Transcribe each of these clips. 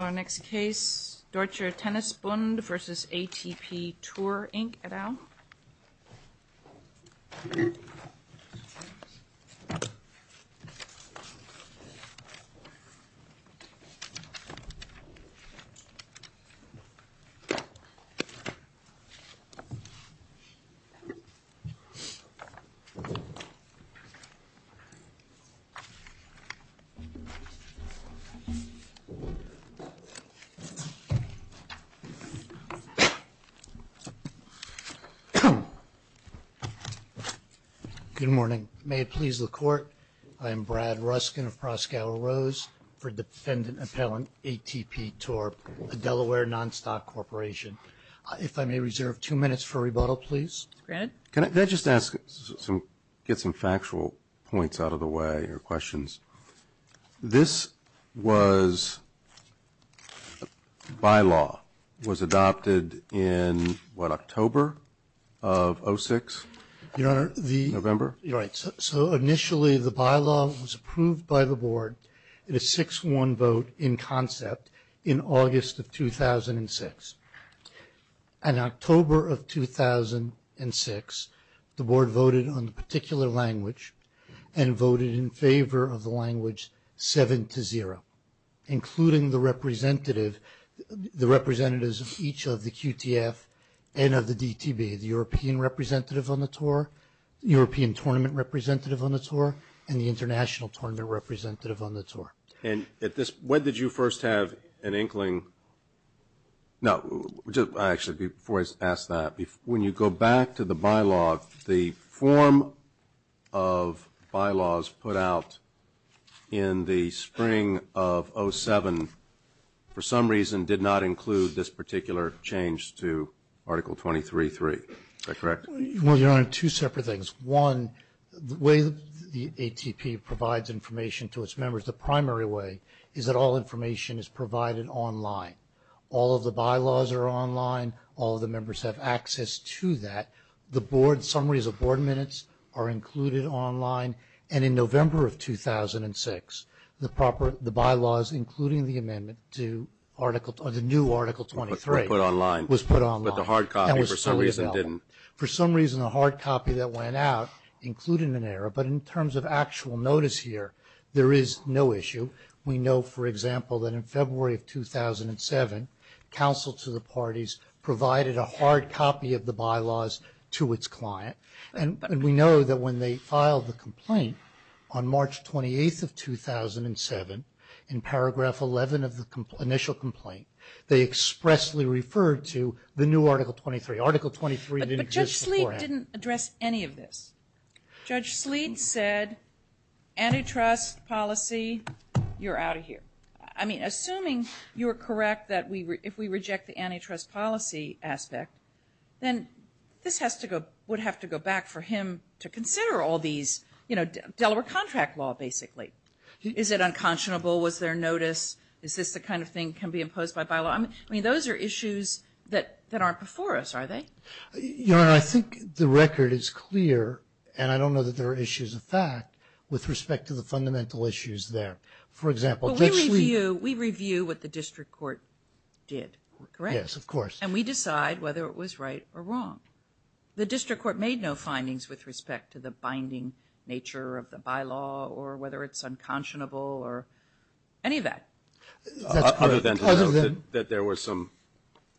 Our next case, Deutscher Tennis Bund v. ATPTour Inc et al. Good morning. May it please the Court, I am Brad Ruskin of Proskauer Rose for Defendant Appellant ATPTour, a Delaware non-stock corporation. If I may reserve two minutes for rebuttal, please. Brad? Can I just ask, get some factual points out of the way or questions? This was, by law, was adopted in what, October of 06, November? Your Honor, so initially the bylaw was approved by the Board in a 6-1 vote in concept in August of 2006. In October of 2006, the Board voted on the particular language and voted in favor of the language 7-0, including the representatives of each of the QTF and of the DTB, the European tournament representative on the tour and the international tournament representative on the tour. And at this, when did you first have an inkling, no, actually before I ask that, when you go back to the bylaw, the form of bylaws put out in the spring of 07, for some reason, did not include this particular change to Article 23-3. Is that correct? Well, Your Honor, two separate things. One, the way the ATP provides information to its members, the primary way, is that all information is provided online. All of the bylaws are online. All of the members have access to that. The Board summaries of Board minutes are included online. And in November of 2006, the bylaws, including the amendment to Article 23, the new Article 23, was put online and was fully developed. For some reason, the hard copy that went out, including an error, but in terms of actual notice here, there is no issue. We know, for example, that in February of 2007, counsel to the parties provided a hard copy of the bylaws to its client. And we know that when they filed the complaint on March 28th of 2007, in paragraph 11 of the initial complaint, they expressly referred to the new Article 23. Article 23 didn't exist beforehand. It didn't address any of this. Judge Sleet said antitrust policy, you're out of here. I mean, assuming you're correct that if we reject the antitrust policy aspect, then this has to go, would have to go back for him to consider all these, you know, Delaware contract law, basically. Is it unconscionable? Was there notice? Is this the kind of thing can be imposed by bylaw? I mean, those are issues that aren't before us, are they? Your Honor, I think the record is clear, and I don't know that there are issues of fact with respect to the fundamental issues there. For example, Judge Sleet... But we review what the district court did, correct? Yes, of course. And we decide whether it was right or wrong. The district court made no findings with respect to the binding nature of the bylaw or whether it's unconscionable or any of that. Other than that, there were some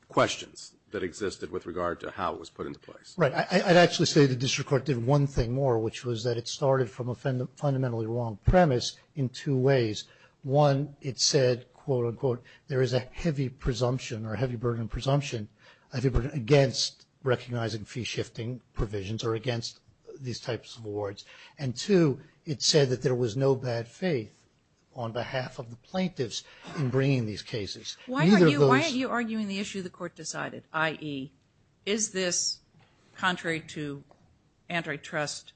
questions that existed with regard to how it was put into place. Right. I'd actually say the district court did one thing more, which was that it started from a fundamentally wrong premise in two ways. One, it said, quote, unquote, there is a heavy presumption or heavy burden presumption against recognizing fee shifting provisions or against these types of awards. And two, it said that there was no bad faith on behalf of the plaintiffs in bringing these cases. Why are you arguing the issue the court decided, i.e., is this contrary to antitrust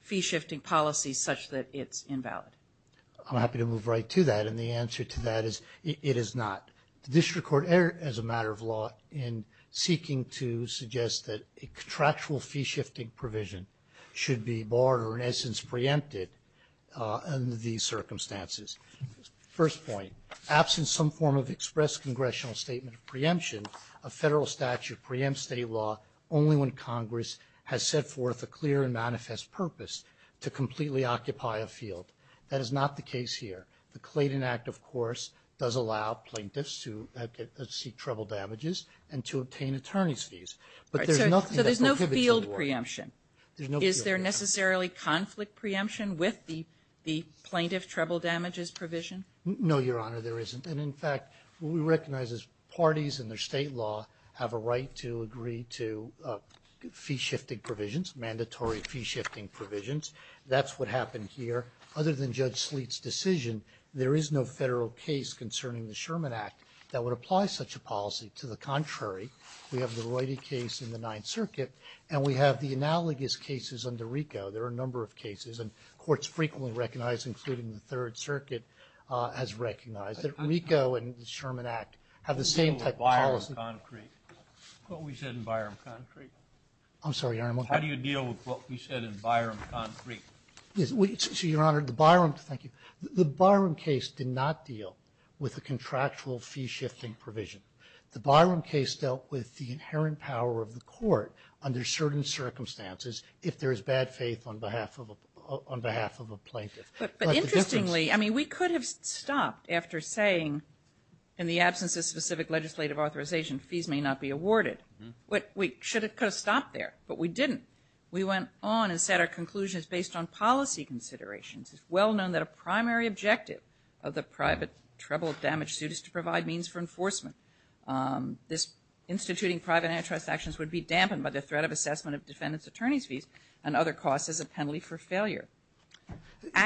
fee shifting policy such that it's invalid? I'm happy to move right to that, and the answer to that is it is not. The district court erred as a matter of law in seeking to suggest that a contractual fee shifting provision should be barred or, in essence, preempted under these circumstances. First point. Absent some form of express congressional statement of preemption, a Federal statute preempts state law only when Congress has set forth a clear and manifest purpose to completely occupy a field. That is not the case here. The Clayton Act, of course, does allow plaintiffs to seek treble damages and to obtain attorney's fees, but there's nothing that prohibits it. There's no preemption. Is there necessarily conflict preemption with the plaintiff treble damages provision? No, Your Honor, there isn't. And, in fact, what we recognize is parties and their state law have a right to agree to fee shifting provisions, mandatory fee shifting provisions. That's what happened here. Other than Judge Sleet's decision, there is no Federal case concerning the Sherman Act that would apply such a policy. To the contrary, we have the analogous cases under RICO. There are a number of cases, and courts frequently recognize, including the Third Circuit, has recognized that RICO and the Sherman Act have the same type of policy. How do you deal with Byram concrete? What we said in Byram concrete? I'm sorry, Your Honor. How do you deal with what we said in Byram concrete? So, Your Honor, the Byram – thank you. The Byram case did not deal with a contractual fee shifting provision. The Byram case dealt with the inherent power of the court under certain circumstances if there is bad faith on behalf of a plaintiff. But, interestingly, I mean, we could have stopped after saying, in the absence of specific legislative authorization, fees may not be awarded. We could have stopped there, but we didn't. We went on and set our conclusions based on policy considerations. It's well known that a primary objective of the private treble of damaged suits is to provide means for enforcement. This instituting private antitrust actions would be dampened by the threat of assessment of defendant's attorney's fees and other costs as a penalty for failure.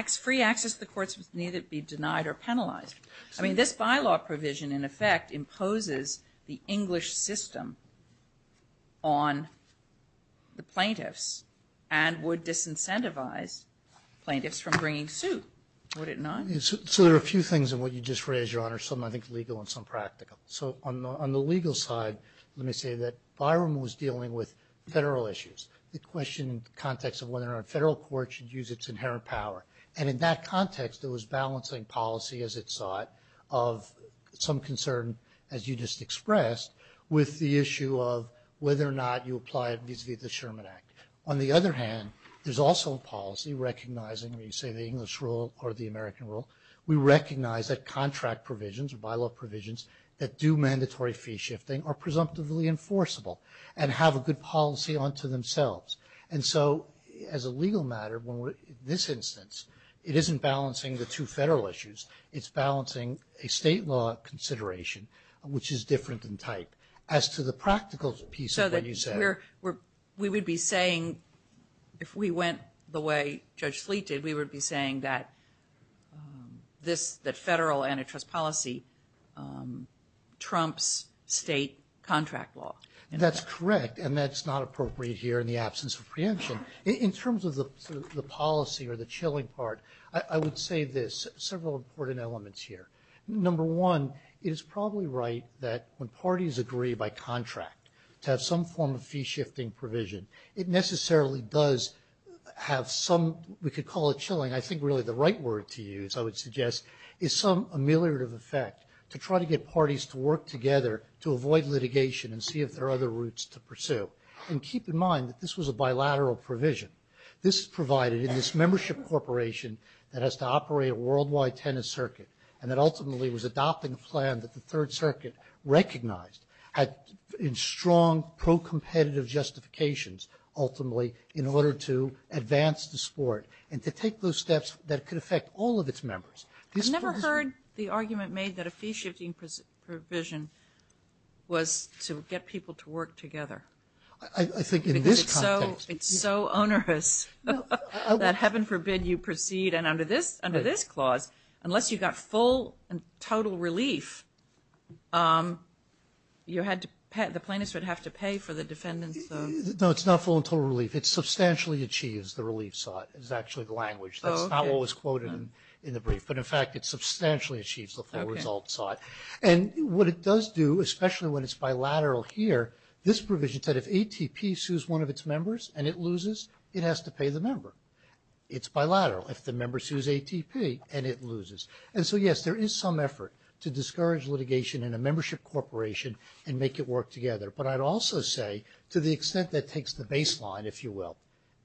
Free access to the courts would neither be denied or penalized. I mean, this bylaw provision, in effect, imposes the English system on the plaintiffs and would disincentivize plaintiffs from bringing suit, would it not? So there are a few things in what you just raised, Your Honor, some I think legal and some practical. So on the legal side, let me say that Byram was dealing with federal issues. It questioned the context of whether or not a federal court should use its inherent power. And in that context, it was balancing policy as it sought of some concern, as you just expressed, with the issue of whether or not you apply it vis-a-vis the Sherman Act. On the other hand, there's also a policy recognizing, when you say the English rule or the American rule, we recognize that contract provisions or bylaw provisions that do mandatory fee shifting are presumptively enforceable and have a good policy unto themselves. And so, as a legal matter, in this instance, it isn't balancing the two federal issues, it's balancing a state law consideration, which is different in type. As to the practical piece of what you said. We would be saying, if we went the way Judge Sleet did, we would be saying that federal antitrust policy trumps state contract law. That's correct. And that's not appropriate here in the absence of preemption. In terms of the policy or the chilling part, I would say this, several important elements here. Number one, it is probably right that when parties agree by contract to have some form of fee shifting provision, it necessarily does have some, we could call it chilling, I think really the right word to use, I would suggest, is some ameliorative effect to try to get parties to work together to avoid litigation and see if there are other routes to pursue. And keep in mind that this was a bilateral provision. This is provided in this membership corporation that has to operate a worldwide tennis circuit and that ultimately was adopting a plan that the Third Circuit recognized in strong pro-competitive justifications ultimately in order to advance the sport and to take those steps that could affect all of its members. I never heard the argument made that a fee shifting provision was to get people to work together. I think in this context. It's so onerous that heaven forbid you proceed and under this clause, unless you got full and total relief, you had to pay, the plaintiffs would have to pay for the defendants. No, it's not full and total relief. It substantially achieves the relief sought, is actually the language. That's not what was quoted in the brief. But in fact, it substantially achieves the full result sought. And what it does do, especially when it's bilateral here, this provision said if ATP sues one of its members and it loses, it has to pay the member. It's bilateral. If the member sues ATP and it loses. And so yes, there is some effort to discourage litigation in a membership corporation and make it work together. But I'd also say to the extent that takes the baseline, if you will,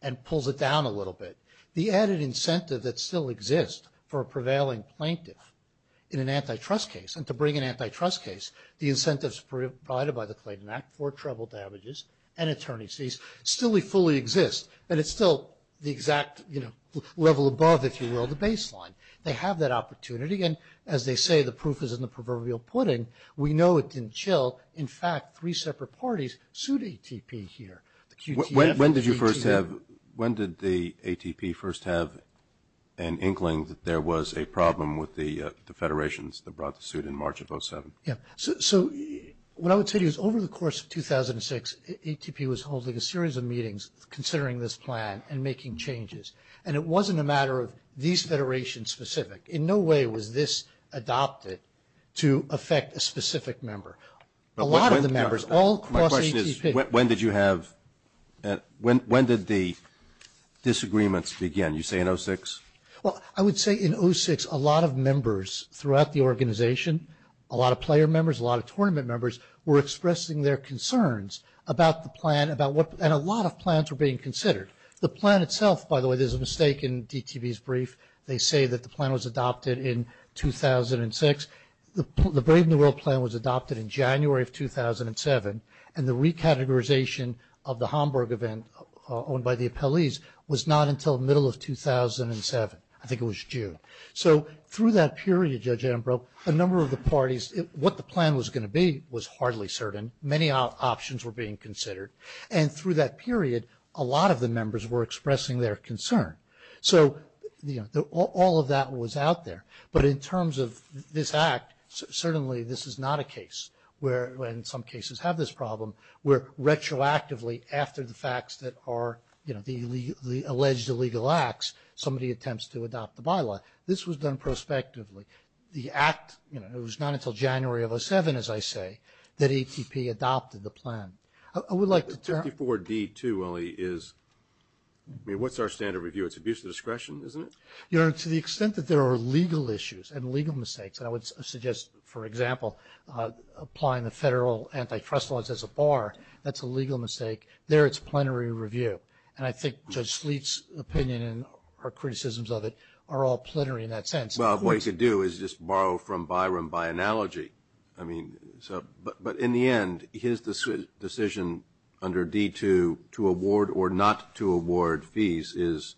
and pulls it down a little bit, the added incentive that still exists for a prevailing plaintiff in an antitrust case and to bring an antitrust case, the incentives provided by the Clayton Act for trouble damages and attorneys, still fully exist. And it's still the exact, you know, level above, if you will, the baseline. They have that opportunity. And as they say, the proof is in the proverbial pudding. We know it didn't chill. In fact, three separate parties sued ATP here. When did you first have, when did the ATP first have an inkling that there was a problem with the federations that brought the suit in March of 07? Yeah. So what I would say to you is over the course of 2006, ATP was holding a series of meetings considering this plan and making changes. And it wasn't a matter of these federations specific. In no way was this adopted to affect a specific member. A lot of the members all across ATP. My question is, when did you have, when did the disagreements begin, you say in 06? Well, I would say in 06, a lot of members throughout the organization, a lot of player members, a lot of tournament members were expressing their concerns about the plan, about what, and a lot of plans were being considered. The plan itself, by the way, there's a mistake in DTV's brief. They say that the plan was adopted in 2006. The Brave New World plan was adopted in January of 2007. And the recategorization of the Hamburg event owned by the appellees was not until the middle of 2007. I think it was June. So through that period, Judge Ambrose, a number of the parties, what the plan was going to be was hardly certain. Many options were being considered. And through that period, a lot of the members were expressing their concern. So, you know, all of that was out there. But in terms of this act, certainly this is not a case where, and some cases have this problem, where retroactively after the alleged illegal acts, somebody attempts to adopt the bylaw. This was done prospectively. The act, you know, it was not until January of 07, as I say, that ATP adopted the plan. I would like to turn... 54D2 only is, I mean, what's our standard review? It's abuse of discretion, isn't it? You know, to the extent that there are legal issues and legal mistakes, and I would suggest, for example, applying the federal antitrust laws as a bar, that's a legal mistake. There it's plenary review. And I think Judge Sleet's opinion and our criticisms of it are all plenary in that sense. Well, what you could do is just borrow from Byram by analogy. I mean, so, but in the end, his decision under D2 to award or not to award fees is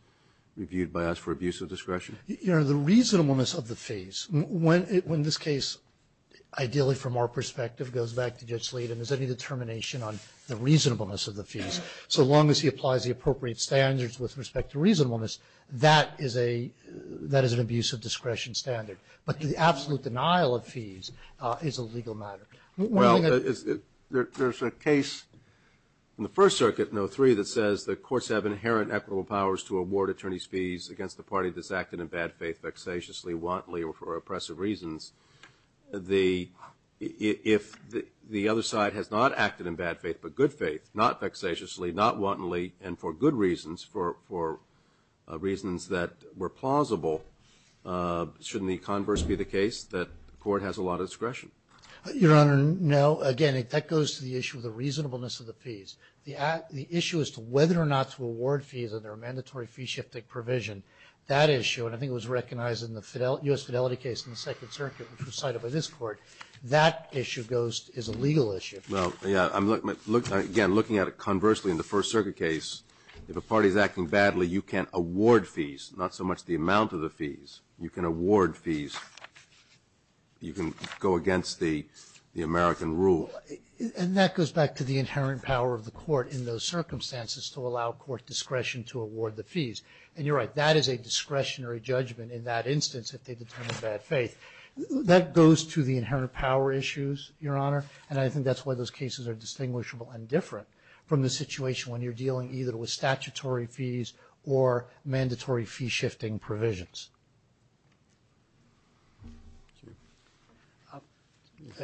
reviewed by us for abuse of discretion. You know, the reasonableness of the fees, when this case, ideally from our perspective, goes back to Judge Sleet and is any determination on the reasonableness of the fees, so long as he applies the appropriate standards with respect to reasonableness, that is a, that is an abuse of discretion standard. But the absolute denial of fees is a legal matter. Well, there's a case in the First Circuit in 03 that says the courts have inherent equitable powers to award attorneys' fees against the party that's acting in bad faith, vexatiously, wantonly, or for oppressive reasons. The, if the other side has not acted in bad faith but good faith, not vexatiously, not wantonly, and for good reasons, for reasons that were plausible, shouldn't the converse be the case that the court has a lot of discretion? Your Honor, no. Again, that goes to the issue of the reasonableness of the fees. The issue as to whether or not to award fees under a mandatory fee-shifting provision, that issue, and I think it was recognized in the U.S. Fidelity case in the Second Circuit, which was cited by this Court, that issue goes, is a legal issue. Well, yeah. Again, looking at it conversely in the First Circuit case, if a party is acting badly, you can't award fees, not so much the amount of the fees. You can award fees. You can go against the American rule. And that goes back to the inherent power of the Court in those circumstances to allow Court discretion to award the fees. And you're right. That is a discretionary judgment in that instance if they determine bad faith. That goes to the inherent power issues, Your Honor, and I think that's why those cases are distinguishable and different from the situation when you're dealing either with statutory fees or mandatory fee-shifting provisions.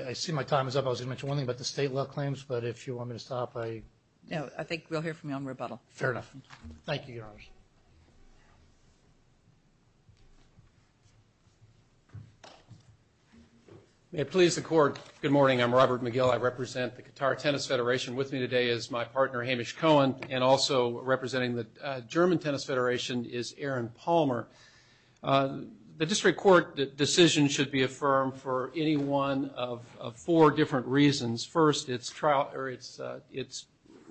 I see my time is up. I was going to mention one thing about the state law claims, but if you want me to stop, I... No, I think we'll hear from you on rebuttal. Fair enough. Thank you, Your Honor. May it please the Court. Good morning. I'm Robert McGill. I represent the Qatar Tennis Federation. With me today is my partner, Hamish Cohen, and also representing the German Tennis Federation is Aaron Palmer. The district court decision should be affirmed for any one of four different reasons. First, its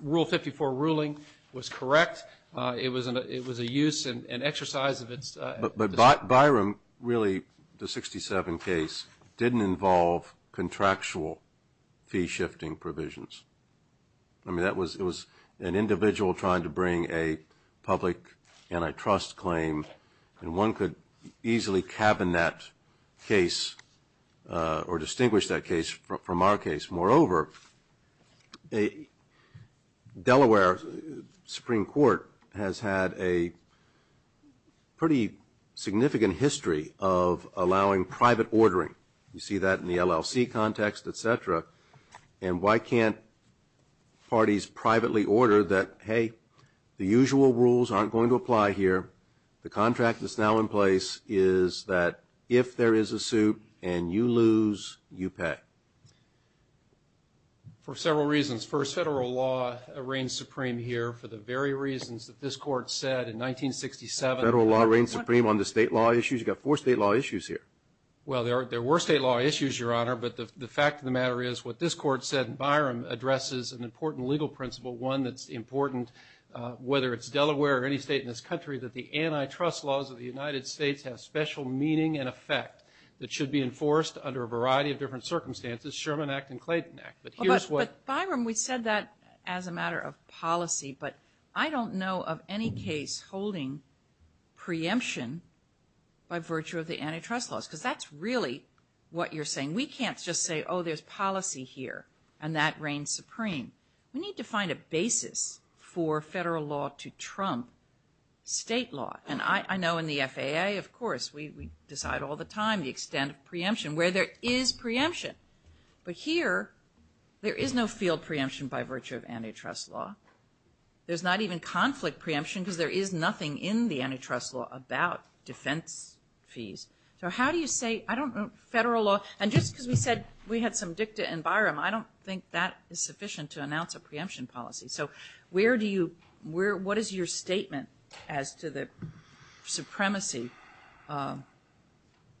rule 54 ruling was correct. It was a use and exercise of its... But Byram, really, the 67 case, didn't involve contractual fee-shifting provisions. I mean, it was an individual trying to bring a public antitrust claim, and one could easily cabinet case or distinguish that case from our case. Moreover, Delaware Supreme Court has had a pretty significant history of allowing private ordering. You see that in the LLC context, et cetera, and why can't parties privately order that, saying, hey, the usual rules aren't going to apply here. The contract that's now in place is that if there is a suit and you lose, you pay. For several reasons. First, federal law reigns supreme here for the very reasons that this court said in 1967... Federal law reigns supreme on the state law issues? You've got four state law issues here. Well, there were state law issues, Your Honor, but the fact of the matter is what this court said in Byram addresses an important legal principle, one that's important, whether it's Delaware or any state in this country, that the antitrust laws of the United States have special meaning and effect that should be enforced under a variety of different circumstances, Sherman Act and Clayton Act. But Byram, we said that as a matter of policy, but I don't know of any case holding preemption by virtue of the antitrust laws, because that's really what you're saying. We can't just say, oh, there's policy here, and that reigns supreme. We need to find a basis for federal law to trump state law. And I know in the FAA, of course, we decide all the time the extent of preemption, where there is preemption. But here, there is no field preemption by virtue of antitrust law. There's not even conflict preemption because there is nothing in the antitrust law about defense fees. So how do you say, I don't know, federal law... And just because we said we had some dicta in Byram, I don't think that is sufficient to announce a preemption policy. So where do you, what is your statement as to the supremacy?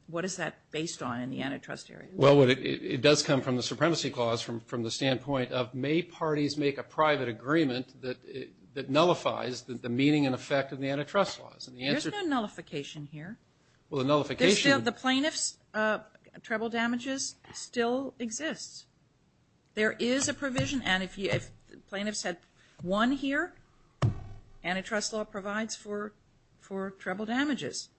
What is that based on in the antitrust area? Well, it does come from the supremacy clause from the standpoint of may parties make a private agreement that nullifies the meaning and effect of the antitrust laws. There's no nullification here. Well, the nullification... The plaintiff's treble damages still exist. There is a provision, and if plaintiffs had one here, antitrust law provides for treble damages.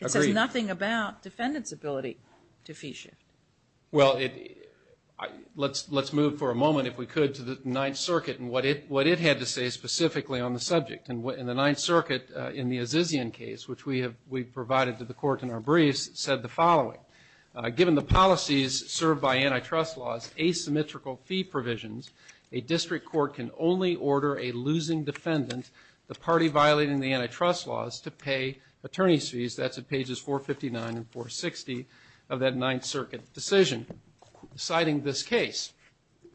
It says nothing about defendant's ability to fee shift. Well, let's move for a moment, if we could, to the Ninth Circuit and what it had to say specifically on the subject. In the Ninth Circuit, in the Azizian case, which we provided to the court in our briefs, said the following. Given the policies served by antitrust laws, asymmetrical fee provisions, a district court can only order a losing defendant, the party violating the antitrust laws, to pay attorney's fees. That's at pages 459 and 460 of that Ninth Circuit decision, citing this case.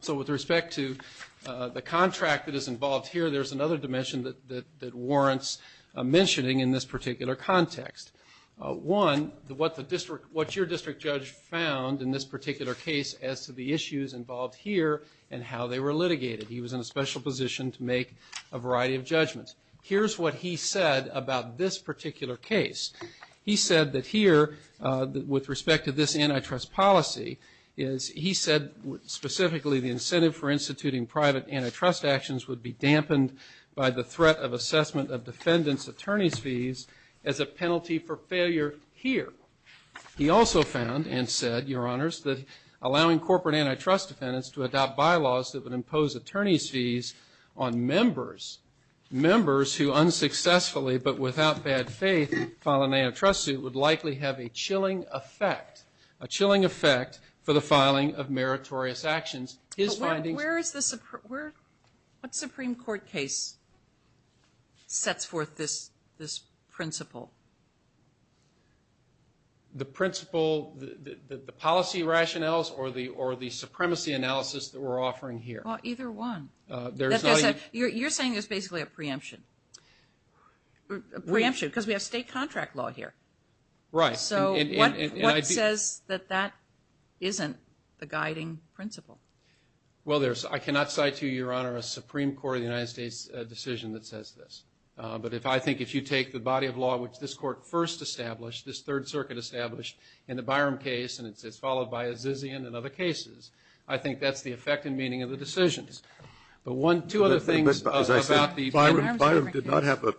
So with respect to the contract that is involved here, there's another dimension that warrants mentioning in this particular context. One, what your district judge found in this particular case as to the issues involved here and how they were litigated. He was in a special position to make a variety of judgments. Here's what he said about this particular case. He said that here, with respect to this antitrust policy, he said specifically the incentive for instituting private antitrust actions would be dampened by the threat of assessment of defendant's attorney's fees as a penalty for failure here. He also found and said, your honors, that allowing corporate antitrust defendants to adopt bylaws that would impose attorney's fees on members, members who unsuccessfully but without bad faith file an antitrust suit would likely have a chilling effect, a chilling effect for the filing of meritorious actions. His findings... Where is the, what Supreme Court case sets forth this principle? The principle, the policy rationales, or the supremacy analysis that we're offering here? Either one. You're saying there's basically a preemption. A preemption, because we have state contract law here. Right. So what says that that isn't the guiding principle? Well there's, I cannot cite to you, your honor, a Supreme Court of the United States decision that says this. But if I think if you take the body of law which this court first established, this Third Circuit established in the Byram case, and it's followed by Azizian and other cases, I think that's the effect and meaning of the decisions. But one, two other things about the... As I said, Byram did not have a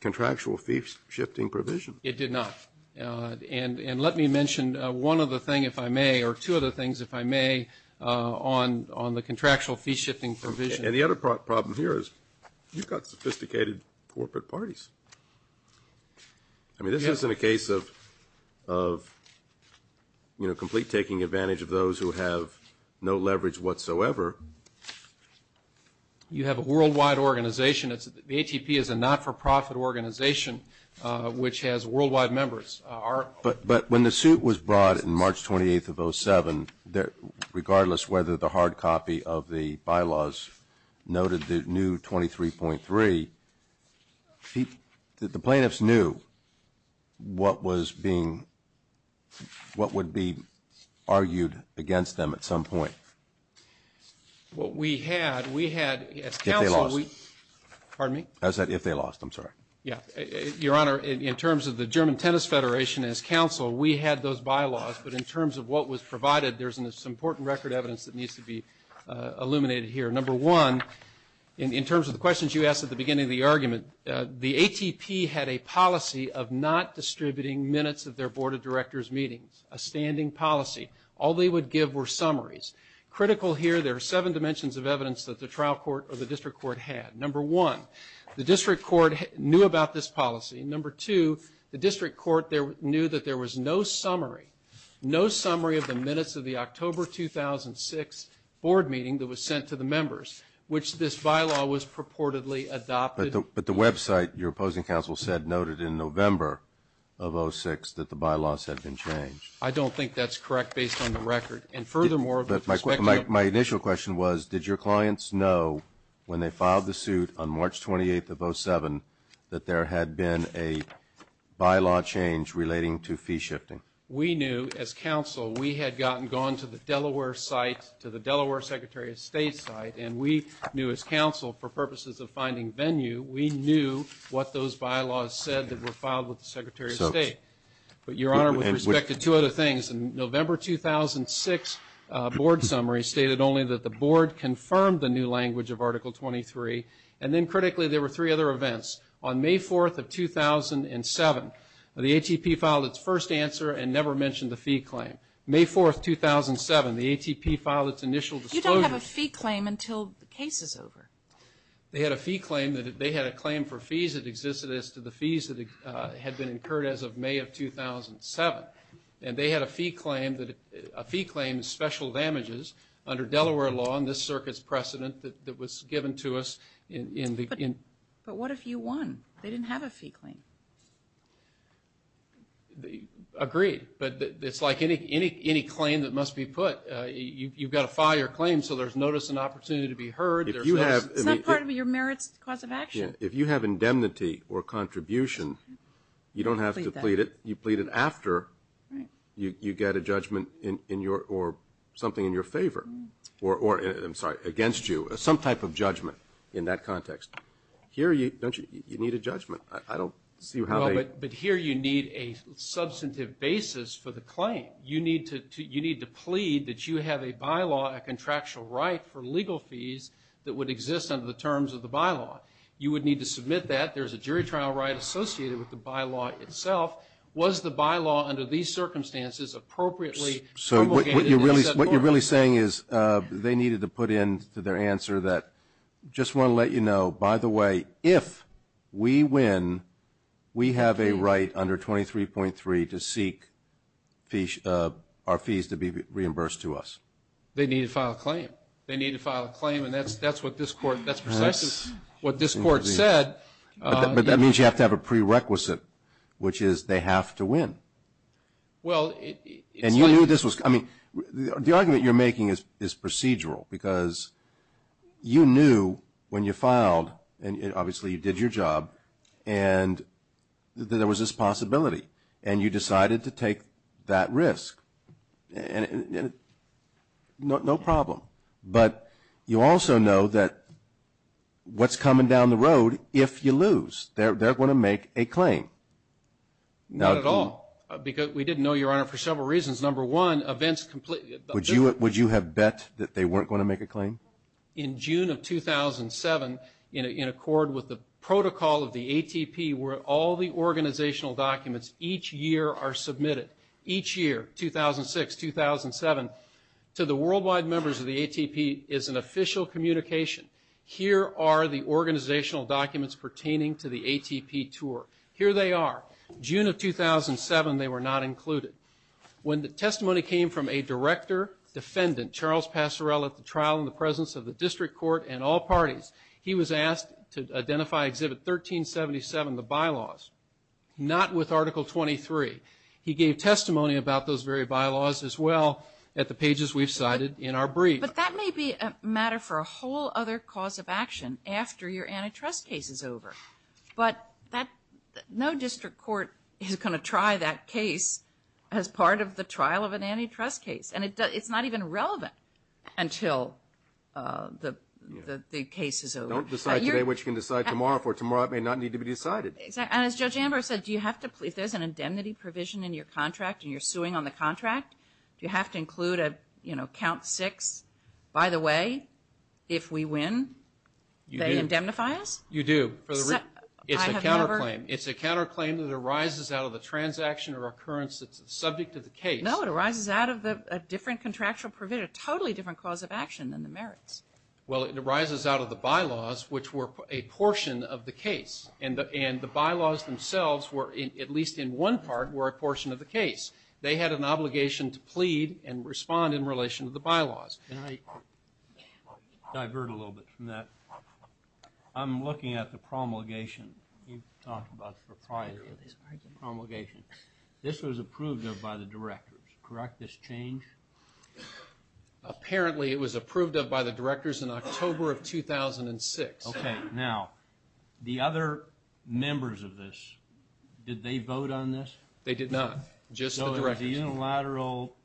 contractual fee shifting provision. It did not. And let me mention one other thing, if I may, or two other things, if I may, on the contractual fee shifting provision. And the other problem here is you've got sophisticated corporate parties. I mean this isn't a case of, you know, complete taking advantage of those who have no leverage whatsoever. You have a worldwide organization. The ATP is a not-for-profit organization which has worldwide members. But when the suit was brought in March 28th of 07, regardless whether the hard copy of the bylaws noted the new 23.3, the plaintiffs knew what was being, what would be argued against them at some point. What we had, we had... If they lost. Pardon me? I said if they lost, I'm sorry. Your Honor, in terms of the German Tennis Federation, as counsel, we had those bylaws, but in terms of what was provided, there's some important record evidence that needs to be illuminated here. Number one, in terms of the questions you asked at the beginning of the argument, the ATP had a policy of not distributing minutes of their Board of Directors meetings, a standing policy. All they would give were summaries. Critical here, there are seven dimensions of evidence that the trial court or the district court had. Number one, the district court knew about this policy. Number two, the district court knew that there was no summary, no summary of the minutes of the October 2006 Board meeting that was sent to the members, which this bylaw was purportedly adopted. But the website your opposing counsel said noted in November of 06 that the bylaws had been changed. I don't think that's correct based on the record. And furthermore, with respect to... My initial question was, did your clients know when they filed the suit on March 28th of 07 that there had been a bylaw change relating to fee shifting? We knew, as counsel, we had gotten, gone to the Delaware site, to the Delaware Secretary of State site, and we knew as counsel, for purposes of finding venue, we knew what those bylaws said that were filed with the Secretary of State. But, Your Honor, with respect to two other things, the November 2006 Board summary stated only that the Board confirmed the new language of Article 23, and then, critically, there were three other events. On May 4th of 2007, the ATP filed its first answer and never mentioned the fee claim. May 4th, 2007, the ATP filed its initial disclosures. You don't have a fee claim until the case is over. They had a fee claim that they had a claim for fees that existed as to the fees that had been incurred as of May of 2007. And they had a fee claim that, a fee claim, special damages, under Delaware law, and this circuit's precedent that was given to us in the... But what if you won? They didn't have a fee claim. Agreed. But it's like any claim that must be put. You've got to file your claim so there's notice and opportunity to be heard. If you have... It's not part of your merits cause of action. If you have indemnity or contribution, you don't have to plead it. You plead it after you get a judgment in your, or something in your favor, or, I'm sorry, against you, some type of judgment in that context. Here, don't you, you need a judgment. I don't see how they... But here you need a substantive basis for the claim. You need to plead that you have a bylaw, a contractual right for legal fees that would exist under the terms of the bylaw. You would need to submit that. There's a jury trial right associated with the bylaw itself. Was the bylaw, under these circumstances, appropriately promulgated and set forth? What you're really saying is they needed to put in their answer that, just want to let you know, by the way, if we win, we have a right under 23.3 to seek our fees to be reimbursed to us. They need to file a claim. They need to file a claim and that's what this court, that's precisely what this court said. But that means you have to have a prerequisite, which is they have to win. Well, it's... And you knew this was, I mean, the argument you're making is procedural because you knew when you filed, and obviously you did your job, and there was this possibility, and you decided to take that risk. No problem. But you also know that what's coming down the road, if you lose, they're going to make a claim. Not at all, because we didn't know, Your Honor, for several reasons. Number one, events completely... Would you have bet that they weren't going to make a claim? In June of 2007, in accord with the protocol of the ATP, where all the organizational documents each year are submitted, each year, 2006, 2007, to the worldwide members of the ATP is an official communication. Here are the organizational documents pertaining to the ATP tour. Here they are. June of 2007, they were not included. When the testimony came from a director, defendant, Charles Passerell, at the trial in the presence of the district court and all parties, he was asked to identify Exhibit 1377, the bylaws, not with Article 23. He gave testimony about those very bylaws as well at the pages we've cited in our brief. But that may be a matter for a whole other cause of action after your antitrust case is over. But no district court is going to try that case as part of the trial of an antitrust case. And it's not even relevant until the case is over. Don't decide today what you can decide tomorrow for. Tomorrow it may not need to be decided. And as Judge Amber said, do you have to, if there's an indemnity provision in your contract and you're suing on the contract, do you have to include a, you know, count six, by the way, if we win, they indemnify us? You do. It's a counterclaim. It's a counterclaim that arises out of the transaction or occurrence that's subject to the case. No, it arises out of a different contractual provision, a totally different cause of action than the merits. Well, it arises out of the bylaws, which were a portion of the case. And the bylaws themselves were, at least in one part, were a portion of the case. They had an obligation to plead and respond in relation to the bylaws. And I divert a little bit from that. I'm looking at the promulgation you talked about for prior to the promulgation. This was approved of by the directors, correct, this change? Apparently it was approved of by the directors in October of 2006. Okay, now, the other members of this, did they vote on this? They did not, just the directors. So it was a unilateral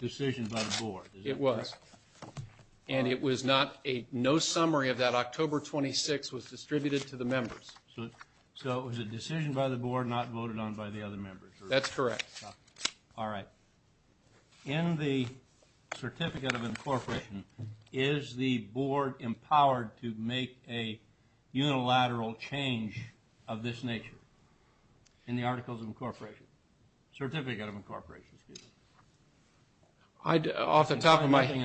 decision by the board. It was. And it was not a, no summary of that October 26 was distributed to the members. So it was a decision by the board, not voted on by the other members. That's correct. All right. In the Certificate of Incorporation, is the board empowered to make a unilateral change of this nature? In the Articles of Incorporation, Certificate of Incorporation, excuse me. I, off the top of my head,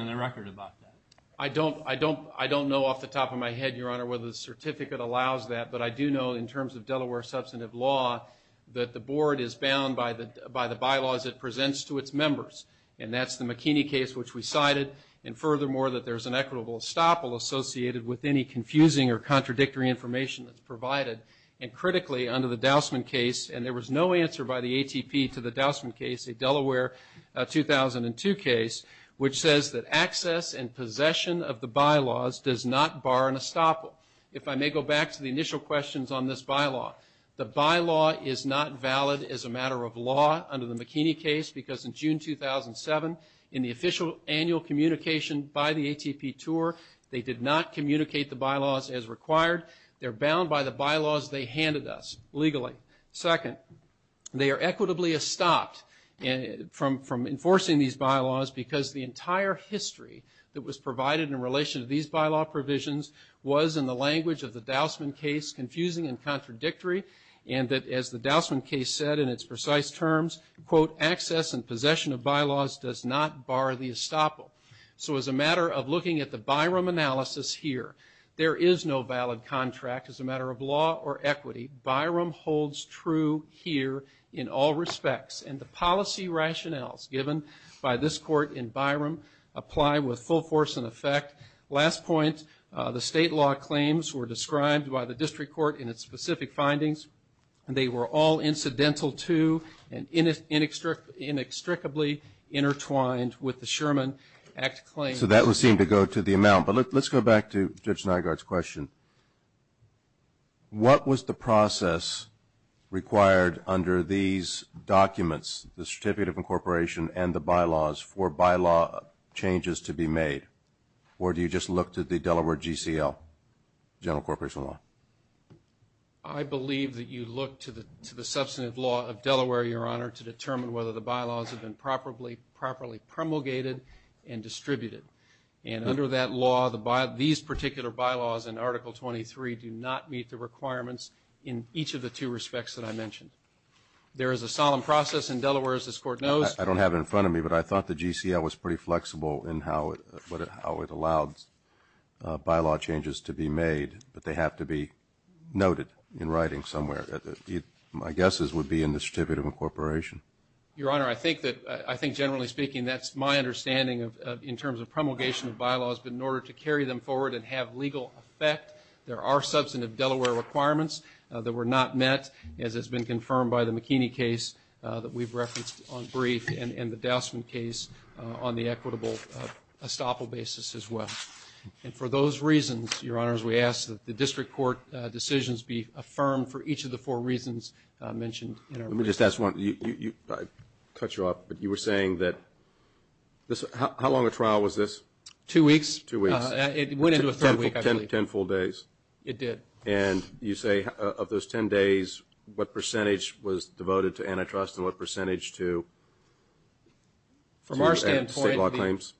I don't, I don't, I don't know off the top of my head, Your Honor, whether the certificate allows that, but I do know in terms of Delaware substantive law, that the board is bound by the bylaws it presents to its members. And that's the McKinney case, which we cited. And furthermore, that there's an equitable estoppel associated with any confusing or contradictory information that's provided. And critically, under the Dousman case, and there was no answer by the ATP to the Dousman case, a Delaware 2002 case, which says that access and possession of the bylaws does not bar an estoppel. If I may go back to the initial questions on this bylaw. The bylaw is not valid as a matter of law under the McKinney case, because in June 2007, in the official annual communication by the ATP tour, they did not communicate the bylaws as required. They're bound by the bylaws they handed us, legally. Second, they are equitably estopped from enforcing these bylaws, because the entire history that was provided in relation to these bylaw provisions was, in the language of the Dousman case, confusing and contradictory. And that, as the Dousman case said in its precise terms, quote, access and possession of bylaws does not bar the estoppel. So as a matter of looking at the Byram analysis here, there is no valid contract as a matter of law or equity. Byram holds true here in all respects. And the policy rationales given by this court in Byram apply with full force and effect. Last point, the state law claims were described by the district court in its specific findings, and they were all incidental to and inextricably intertwined with the Sherman Act claim. So that would seem to go to the amount. But let's go back to Judge Nygaard's question. What was the process required under these documents, the Certificate of Incorporation and the bylaws, for bylaw changes to be made? Or do you just look to the Delaware GCL, general corporation law? I believe that you look to the substantive law of Delaware, Your Honor, to determine whether the bylaws have been properly promulgated and distributed. And under that law, these particular bylaws in Article 23 do not meet the requirements in each of the two respects that I mentioned. There is a solemn process in Delaware, as this court knows. I don't have it in front of me, but I thought the GCL was pretty flexible in how it, how it allowed bylaw changes to be made. But they have to be noted in writing somewhere. My guess is it would be in the Certificate of Incorporation. Your Honor, I think that, I think generally speaking, that's my understanding of, in terms of promulgation of bylaws, but in order to carry them forward and have legal effect, there are substantive Delaware requirements that were not met, as has been confirmed by the McKinney case that we've referenced on brief, and the Dousman case on the equitable estoppel basis as well. And for those reasons, Your Honor, as we ask that the district court decisions be affirmed for each of the four reasons mentioned in our report. Let me just ask one. You, you, you, I cut you off, but you were saying that this, how, how long a trial was this? Two weeks. Two weeks. It went into a third week, I believe. Ten, ten full days. It did. And you say of those ten days, what percentage was devoted to antitrust and what percentage to state law claims? From our standpoint,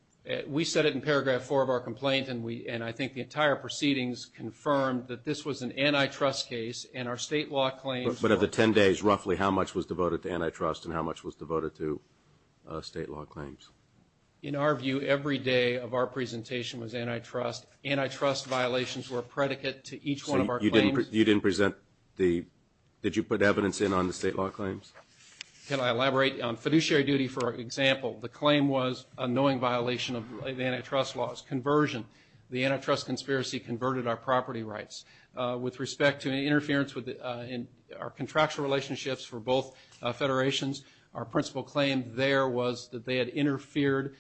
we said it in paragraph four of our complaint, and we, and I think the entire proceedings confirmed that this was an antitrust case, and our state law claims. But of the ten days, roughly how much was devoted to antitrust and how much was devoted to state law claims? In our view, every day of our presentation was antitrust. Antitrust violations were a predicate to each one of our claims. You didn't present the, did you put evidence in on the state law claims? Can I elaborate? On fiduciary duty, for example, the claim was a knowing violation of antitrust laws. Conversion. The antitrust conspiracy converted our property rights. With respect to interference with our contractual relationships for both federations, our principal claim there was that they had interfered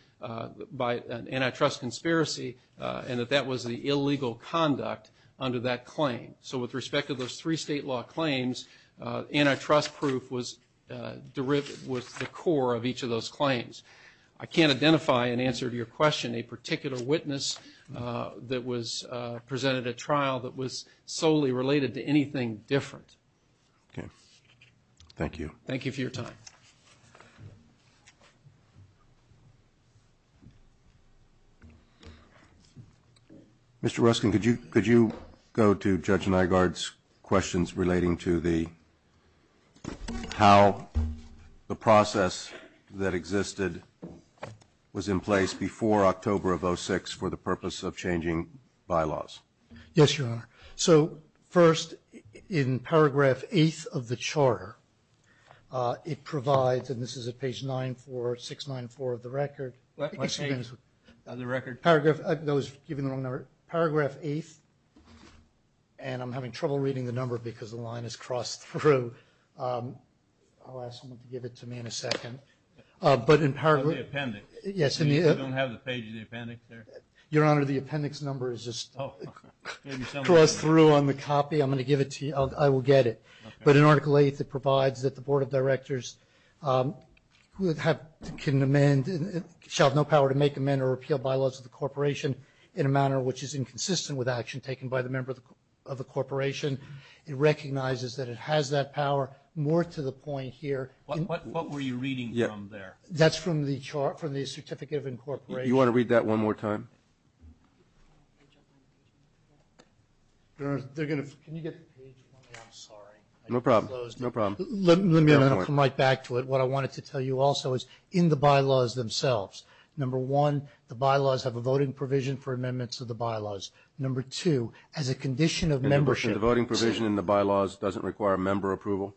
by an antitrust conspiracy, and that that was the illegal conduct under that claim. So with respect to those three state law claims, antitrust proof was the core of each of those claims. I can't identify an answer to your question, a particular witness that was presented at trial that was solely related to anything different. Okay. Thank you. Thank you for your time. Mr. Ruskin, could you go to Judge Nygaard's questions relating to the, how the process that existed was in place before October of 06 for the purpose of changing bylaws? Yes, Your Honor. So first, in paragraph 8th of the charter, it provides for and this is at page 94694 of the record. Paragraph 8th of the record? Paragraph, I was giving the wrong number. Paragraph 8th, and I'm having trouble reading the number because the line is crossed through. I'll ask someone to give it to me in a second. But in paragraph. The appendix. Yes. You don't have the page of the appendix there? Your Honor, the appendix number is just crossed through on the copy. I'm going to give it to you, I will get it. But in article 8, it provides that the Board of Directors who have, can amend, shall have no power to make, amend, or repeal bylaws of the corporation in a manner which is inconsistent with action taken by the member of the corporation. It recognizes that it has that power. More to the point here. What were you reading from there? That's from the certificate of incorporation. You want to read that one more time? Can you get the page up on the page for me? Your Honor, they're going to, can you get the page for me? I'm sorry. No problem. No problem. Let me, and then I'll come right back to it. What I wanted to tell you also is, in the bylaws themselves, number one, the bylaws have a voting provision for amendments of the bylaws. Number two, as a condition of membership. The voting provision in the bylaws doesn't require member approval?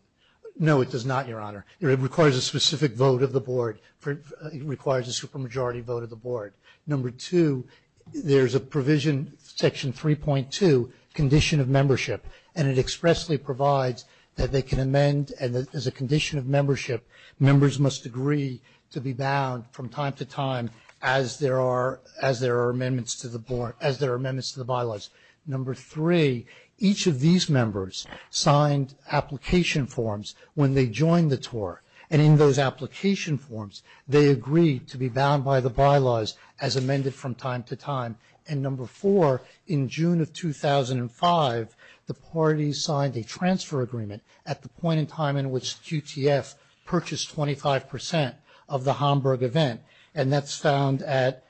No, it does not, Your Honor. It requires a specific vote of the Board. It requires a supermajority vote of the Board. Number two, there's a provision, section 3.2, condition of membership, and it expressly provides that they can amend, and as a condition of membership, members must agree to be bound from time to time as there are amendments to the bylaws. Number three, each of these members signed application forms when they joined the TOR, and in those application forms, they agreed to be bound by the bylaws as amended from time to time. And number four, in June of 2005, the parties signed a transfer agreement at the point in time in which QTF purchased 25% of the Homburg event, and that's found at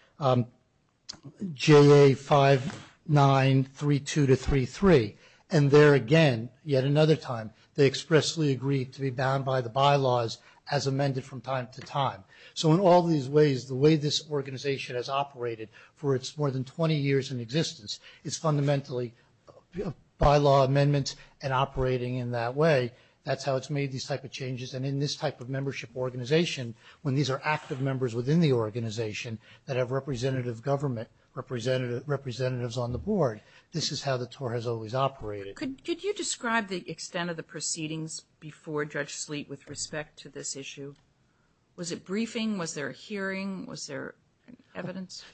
JA5932-33. And there again, yet another time, they expressly agreed to be bound by the bylaws as amended from time to time. So in all these ways, the way this organization has operated for its more than 20 years in existence is fundamentally bylaw amendments and operating in that way. That's how it's made these type of changes, and in this type of membership organization, when these are active members within the organization that have representative government, representatives on the Board, this is how the TOR has always operated. Could you describe the extent of the proceedings before Judge Sleet with respect to this issue? Was it briefing? Was there a hearing? Was there evidence?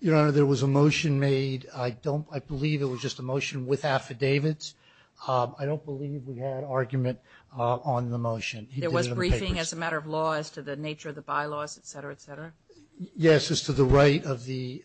Your Honor, there was a motion made. I believe it was just a motion with affidavits. I don't believe we had argument on the motion. There was briefing as a matter of law as to the nature of the bylaws, et cetera, et cetera? Yes, as to the right of the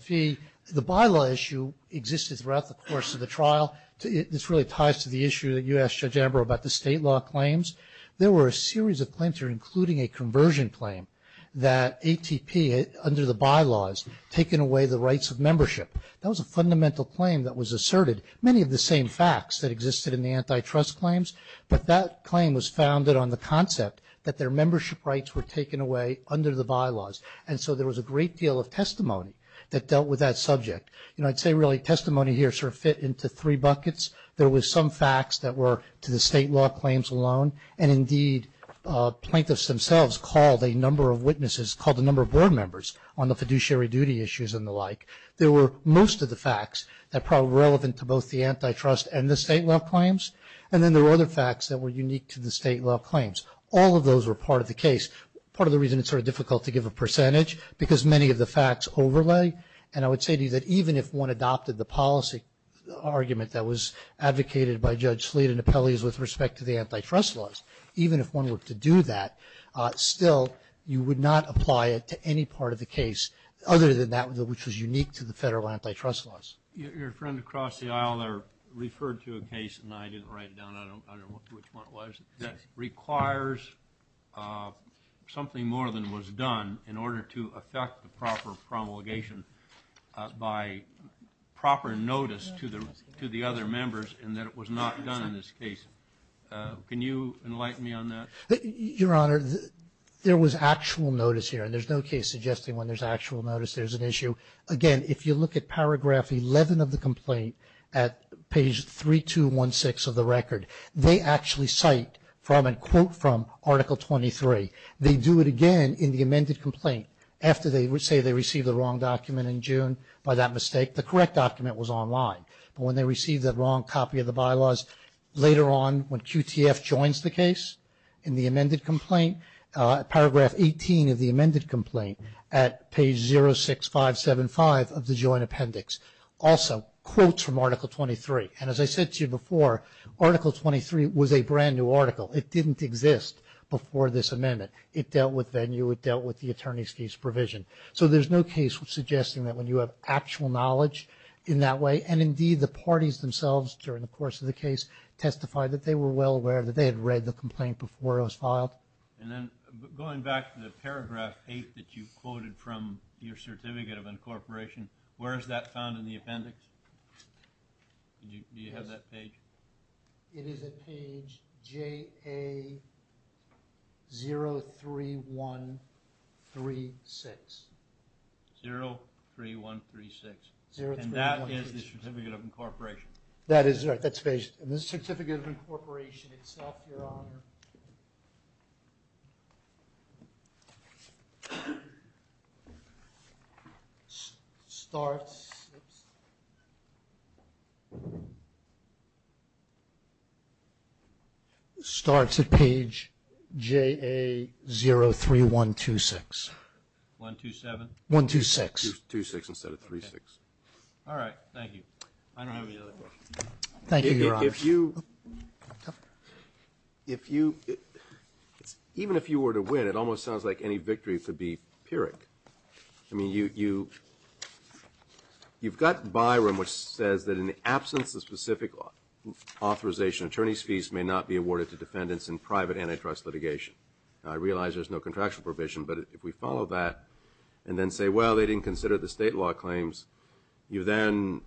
fee. The bylaw issue existed throughout the course of the trial. This really ties to the issue that you asked Judge Amber about, the state law claims. There were a series of claims here, including a conversion claim that ATP, under the bylaws, taken away the rights of membership. That was a fundamental claim that was asserted, many of the same facts that existed in the antitrust claims, but that claim was founded on the concept that their membership rights were taken away under the bylaws, and so there was a great deal of testimony that dealt with that subject. You know, I'd say really testimony here sort of fit into three buckets. There was some facts that were to the state law claims alone, and indeed plaintiffs themselves called a number of witnesses, called a number of board members on the fiduciary duty issues and the like. There were most of the facts that were probably relevant to both the antitrust and the state law claims, and then there were other facts that were unique to the state law claims. All of those were part of the case. Part of the reason it's sort of difficult to give a percentage, because many of the facts overlay, and I would say to you that even if one adopted the policy argument that was advocated by Judge Slade and Apelles with respect to the antitrust laws, even if one were to do that, still you would not apply it to any part of the case other than that which was unique to the federal antitrust laws. Your friend across the aisle there referred to a case, and I didn't write it down, I don't know which one it was, that requires something more than was done in order to affect the proper promulgation by proper notice to the other members and that it was not done in this case. Can you enlighten me on that? Your Honor, there was actual notice here, and there's no case suggesting when there's actual notice there's an issue. Again, if you look at paragraph 11 of the complaint at page 3216 of the record, they actually cite from and quote from Article 23. They do it again in the amended complaint after they say they received the wrong document in June by that mistake. The correct document was online, but when they received the wrong copy of the bylaws later on when QTF joins the case in the amended complaint, paragraph 18 of the amended complaint at page 06575 of the joint appendix, also quotes from Article 23. And as I said to you before, Article 23 was a brand new article. It didn't exist before this amendment. It dealt with venue, it dealt with the attorney's case provision. So there's no case suggesting that when you have actual knowledge in that way, and indeed the parties themselves during the course of the case testified that they were well aware that they had read the complaint before it was filed. And then going back to the paragraph 8 that you quoted from your certificate of incorporation, where is that found in the appendix? Do you have that page? It is at page JA03136. 03136. And that is the certificate of incorporation. That is right. And the certificate of incorporation itself, Your Honor, starts at page JA03126. 127? 126. 26 instead of 36. All right. Thank you. Thank you, Your Honor. If you – even if you were to win, it almost sounds like any victory could be pyrrhic. I mean, you've got Byram, which says that in the absence of specific authorization, attorney's fees may not be awarded to defendants in private antitrust litigation. I realize there's no contractual provision, but if we follow that and then say, well, they didn't consider the state law claims, you then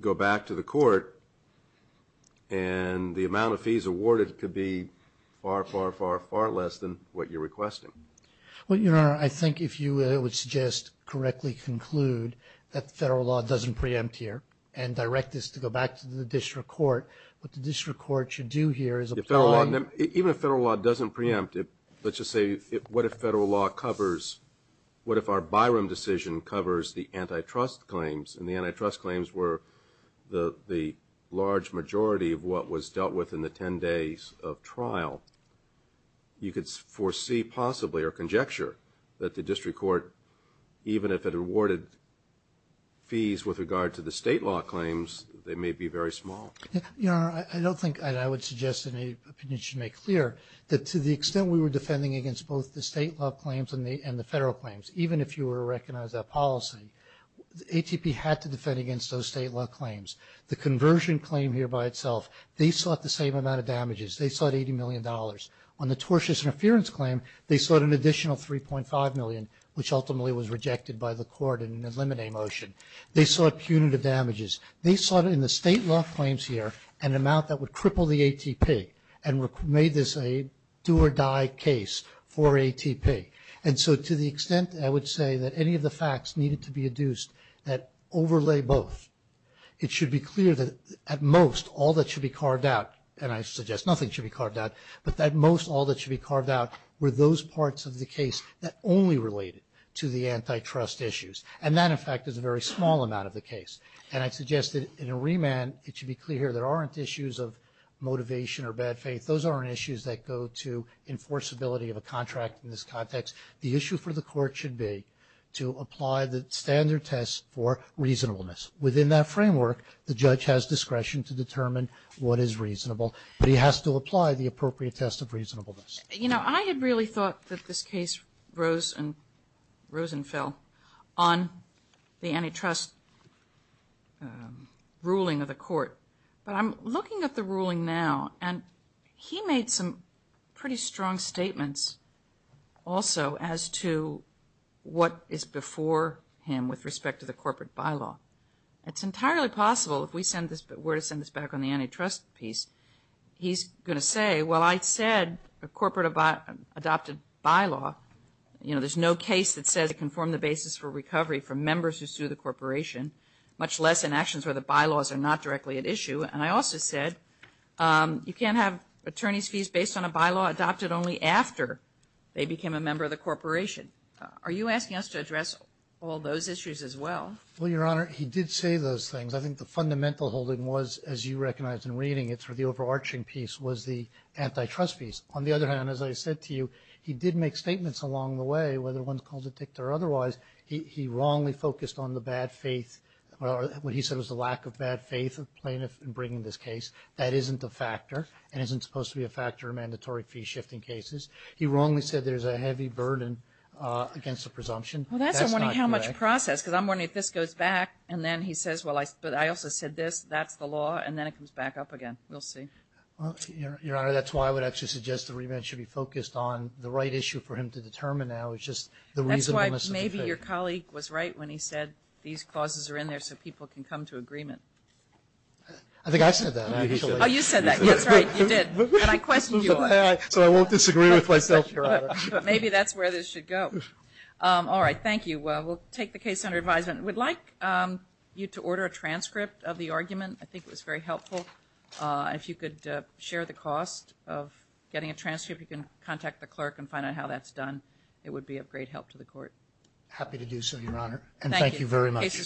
go back to the court and the amount of fees awarded could be far, far, far, far less than what you're requesting. Well, Your Honor, I think if you would suggest correctly conclude that the federal law doesn't preempt here and direct us to go back to the district court, what the district court should do here is apply – Even if federal law doesn't preempt, let's just say what if federal law covers – and the antitrust claims were the large majority of what was dealt with in the 10 days of trial. You could foresee possibly or conjecture that the district court, even if it awarded fees with regard to the state law claims, they may be very small. Your Honor, I don't think – and I would suggest that you should make clear that to the extent we were defending against both the state law claims and the federal claims, even if you were to recognize that policy, the ATP had to defend against those state law claims. The conversion claim here by itself, they sought the same amount of damages. They sought $80 million. On the tortious interference claim, they sought an additional $3.5 million, which ultimately was rejected by the court in an eliminate motion. They sought punitive damages. They sought in the state law claims here an amount that would cripple the ATP and made this a do-or-die case for ATP. Okay. And so to the extent I would say that any of the facts needed to be adduced that overlay both, it should be clear that at most all that should be carved out – and I suggest nothing should be carved out – but at most all that should be carved out were those parts of the case that only related to the antitrust issues. And that, in fact, is a very small amount of the case. And I suggest that in a remand it should be clear there aren't issues of motivation or bad faith. Those aren't issues that go to enforceability of a contract in this context. The issue for the court should be to apply the standard test for reasonableness. Within that framework, the judge has discretion to determine what is reasonable, but he has to apply the appropriate test of reasonableness. You know, I had really thought that this case rose and fell on the antitrust ruling of the court. But I'm looking at the ruling now and he made some pretty strong statements also as to what is before him with respect to the corporate bylaw. It's entirely possible, if we were to send this back on the antitrust piece, he's going to say, well, I said a corporate adopted bylaw, you know, there's no case that says it can form the basis for recovery for members who sue the corporation, much less in actions where the bylaws are not directly at issue. And I also said you can't have attorney's fees based on a bylaw adopted only after they became a member of the corporation. Are you asking us to address all those issues as well? Well, Your Honor, he did say those things. I think the fundamental holding was, as you recognize in reading it through the overarching piece, was the antitrust piece. On the other hand, as I said to you, he did make statements along the way, whether one's called a dictator or otherwise. He wrongly focused on the bad faith, or what he said was the lack of bad faith of plaintiffs in bringing this case. That isn't a factor and isn't supposed to be a factor in mandatory fee-shifting cases. He wrongly said there's a heavy burden against the presumption. That's not correct. Well, that's I'm wondering how much process, because I'm wondering if this goes back and then he says, well, I also said this, that's the law, and then it comes back up again. We'll see. Well, Your Honor, that's why I would actually suggest the remand should be focused on the right issue for him to determine now is just the reasonableness of the case. I think your colleague was right when he said these clauses are in there so people can come to agreement. I think I said that. Oh, you said that. That's right, you did. And I questioned you on it. So I won't disagree with myself, Your Honor. But maybe that's where this should go. All right. Thank you. We'll take the case under advisement. We'd like you to order a transcript of the argument. I think it was very helpful. If you could share the cost of getting a transcript, you can contact the clerk and find out how that's done. It would be of great help to the court. Happy to do so, Your Honor. And thank you very much. Thank you. The case is well argued.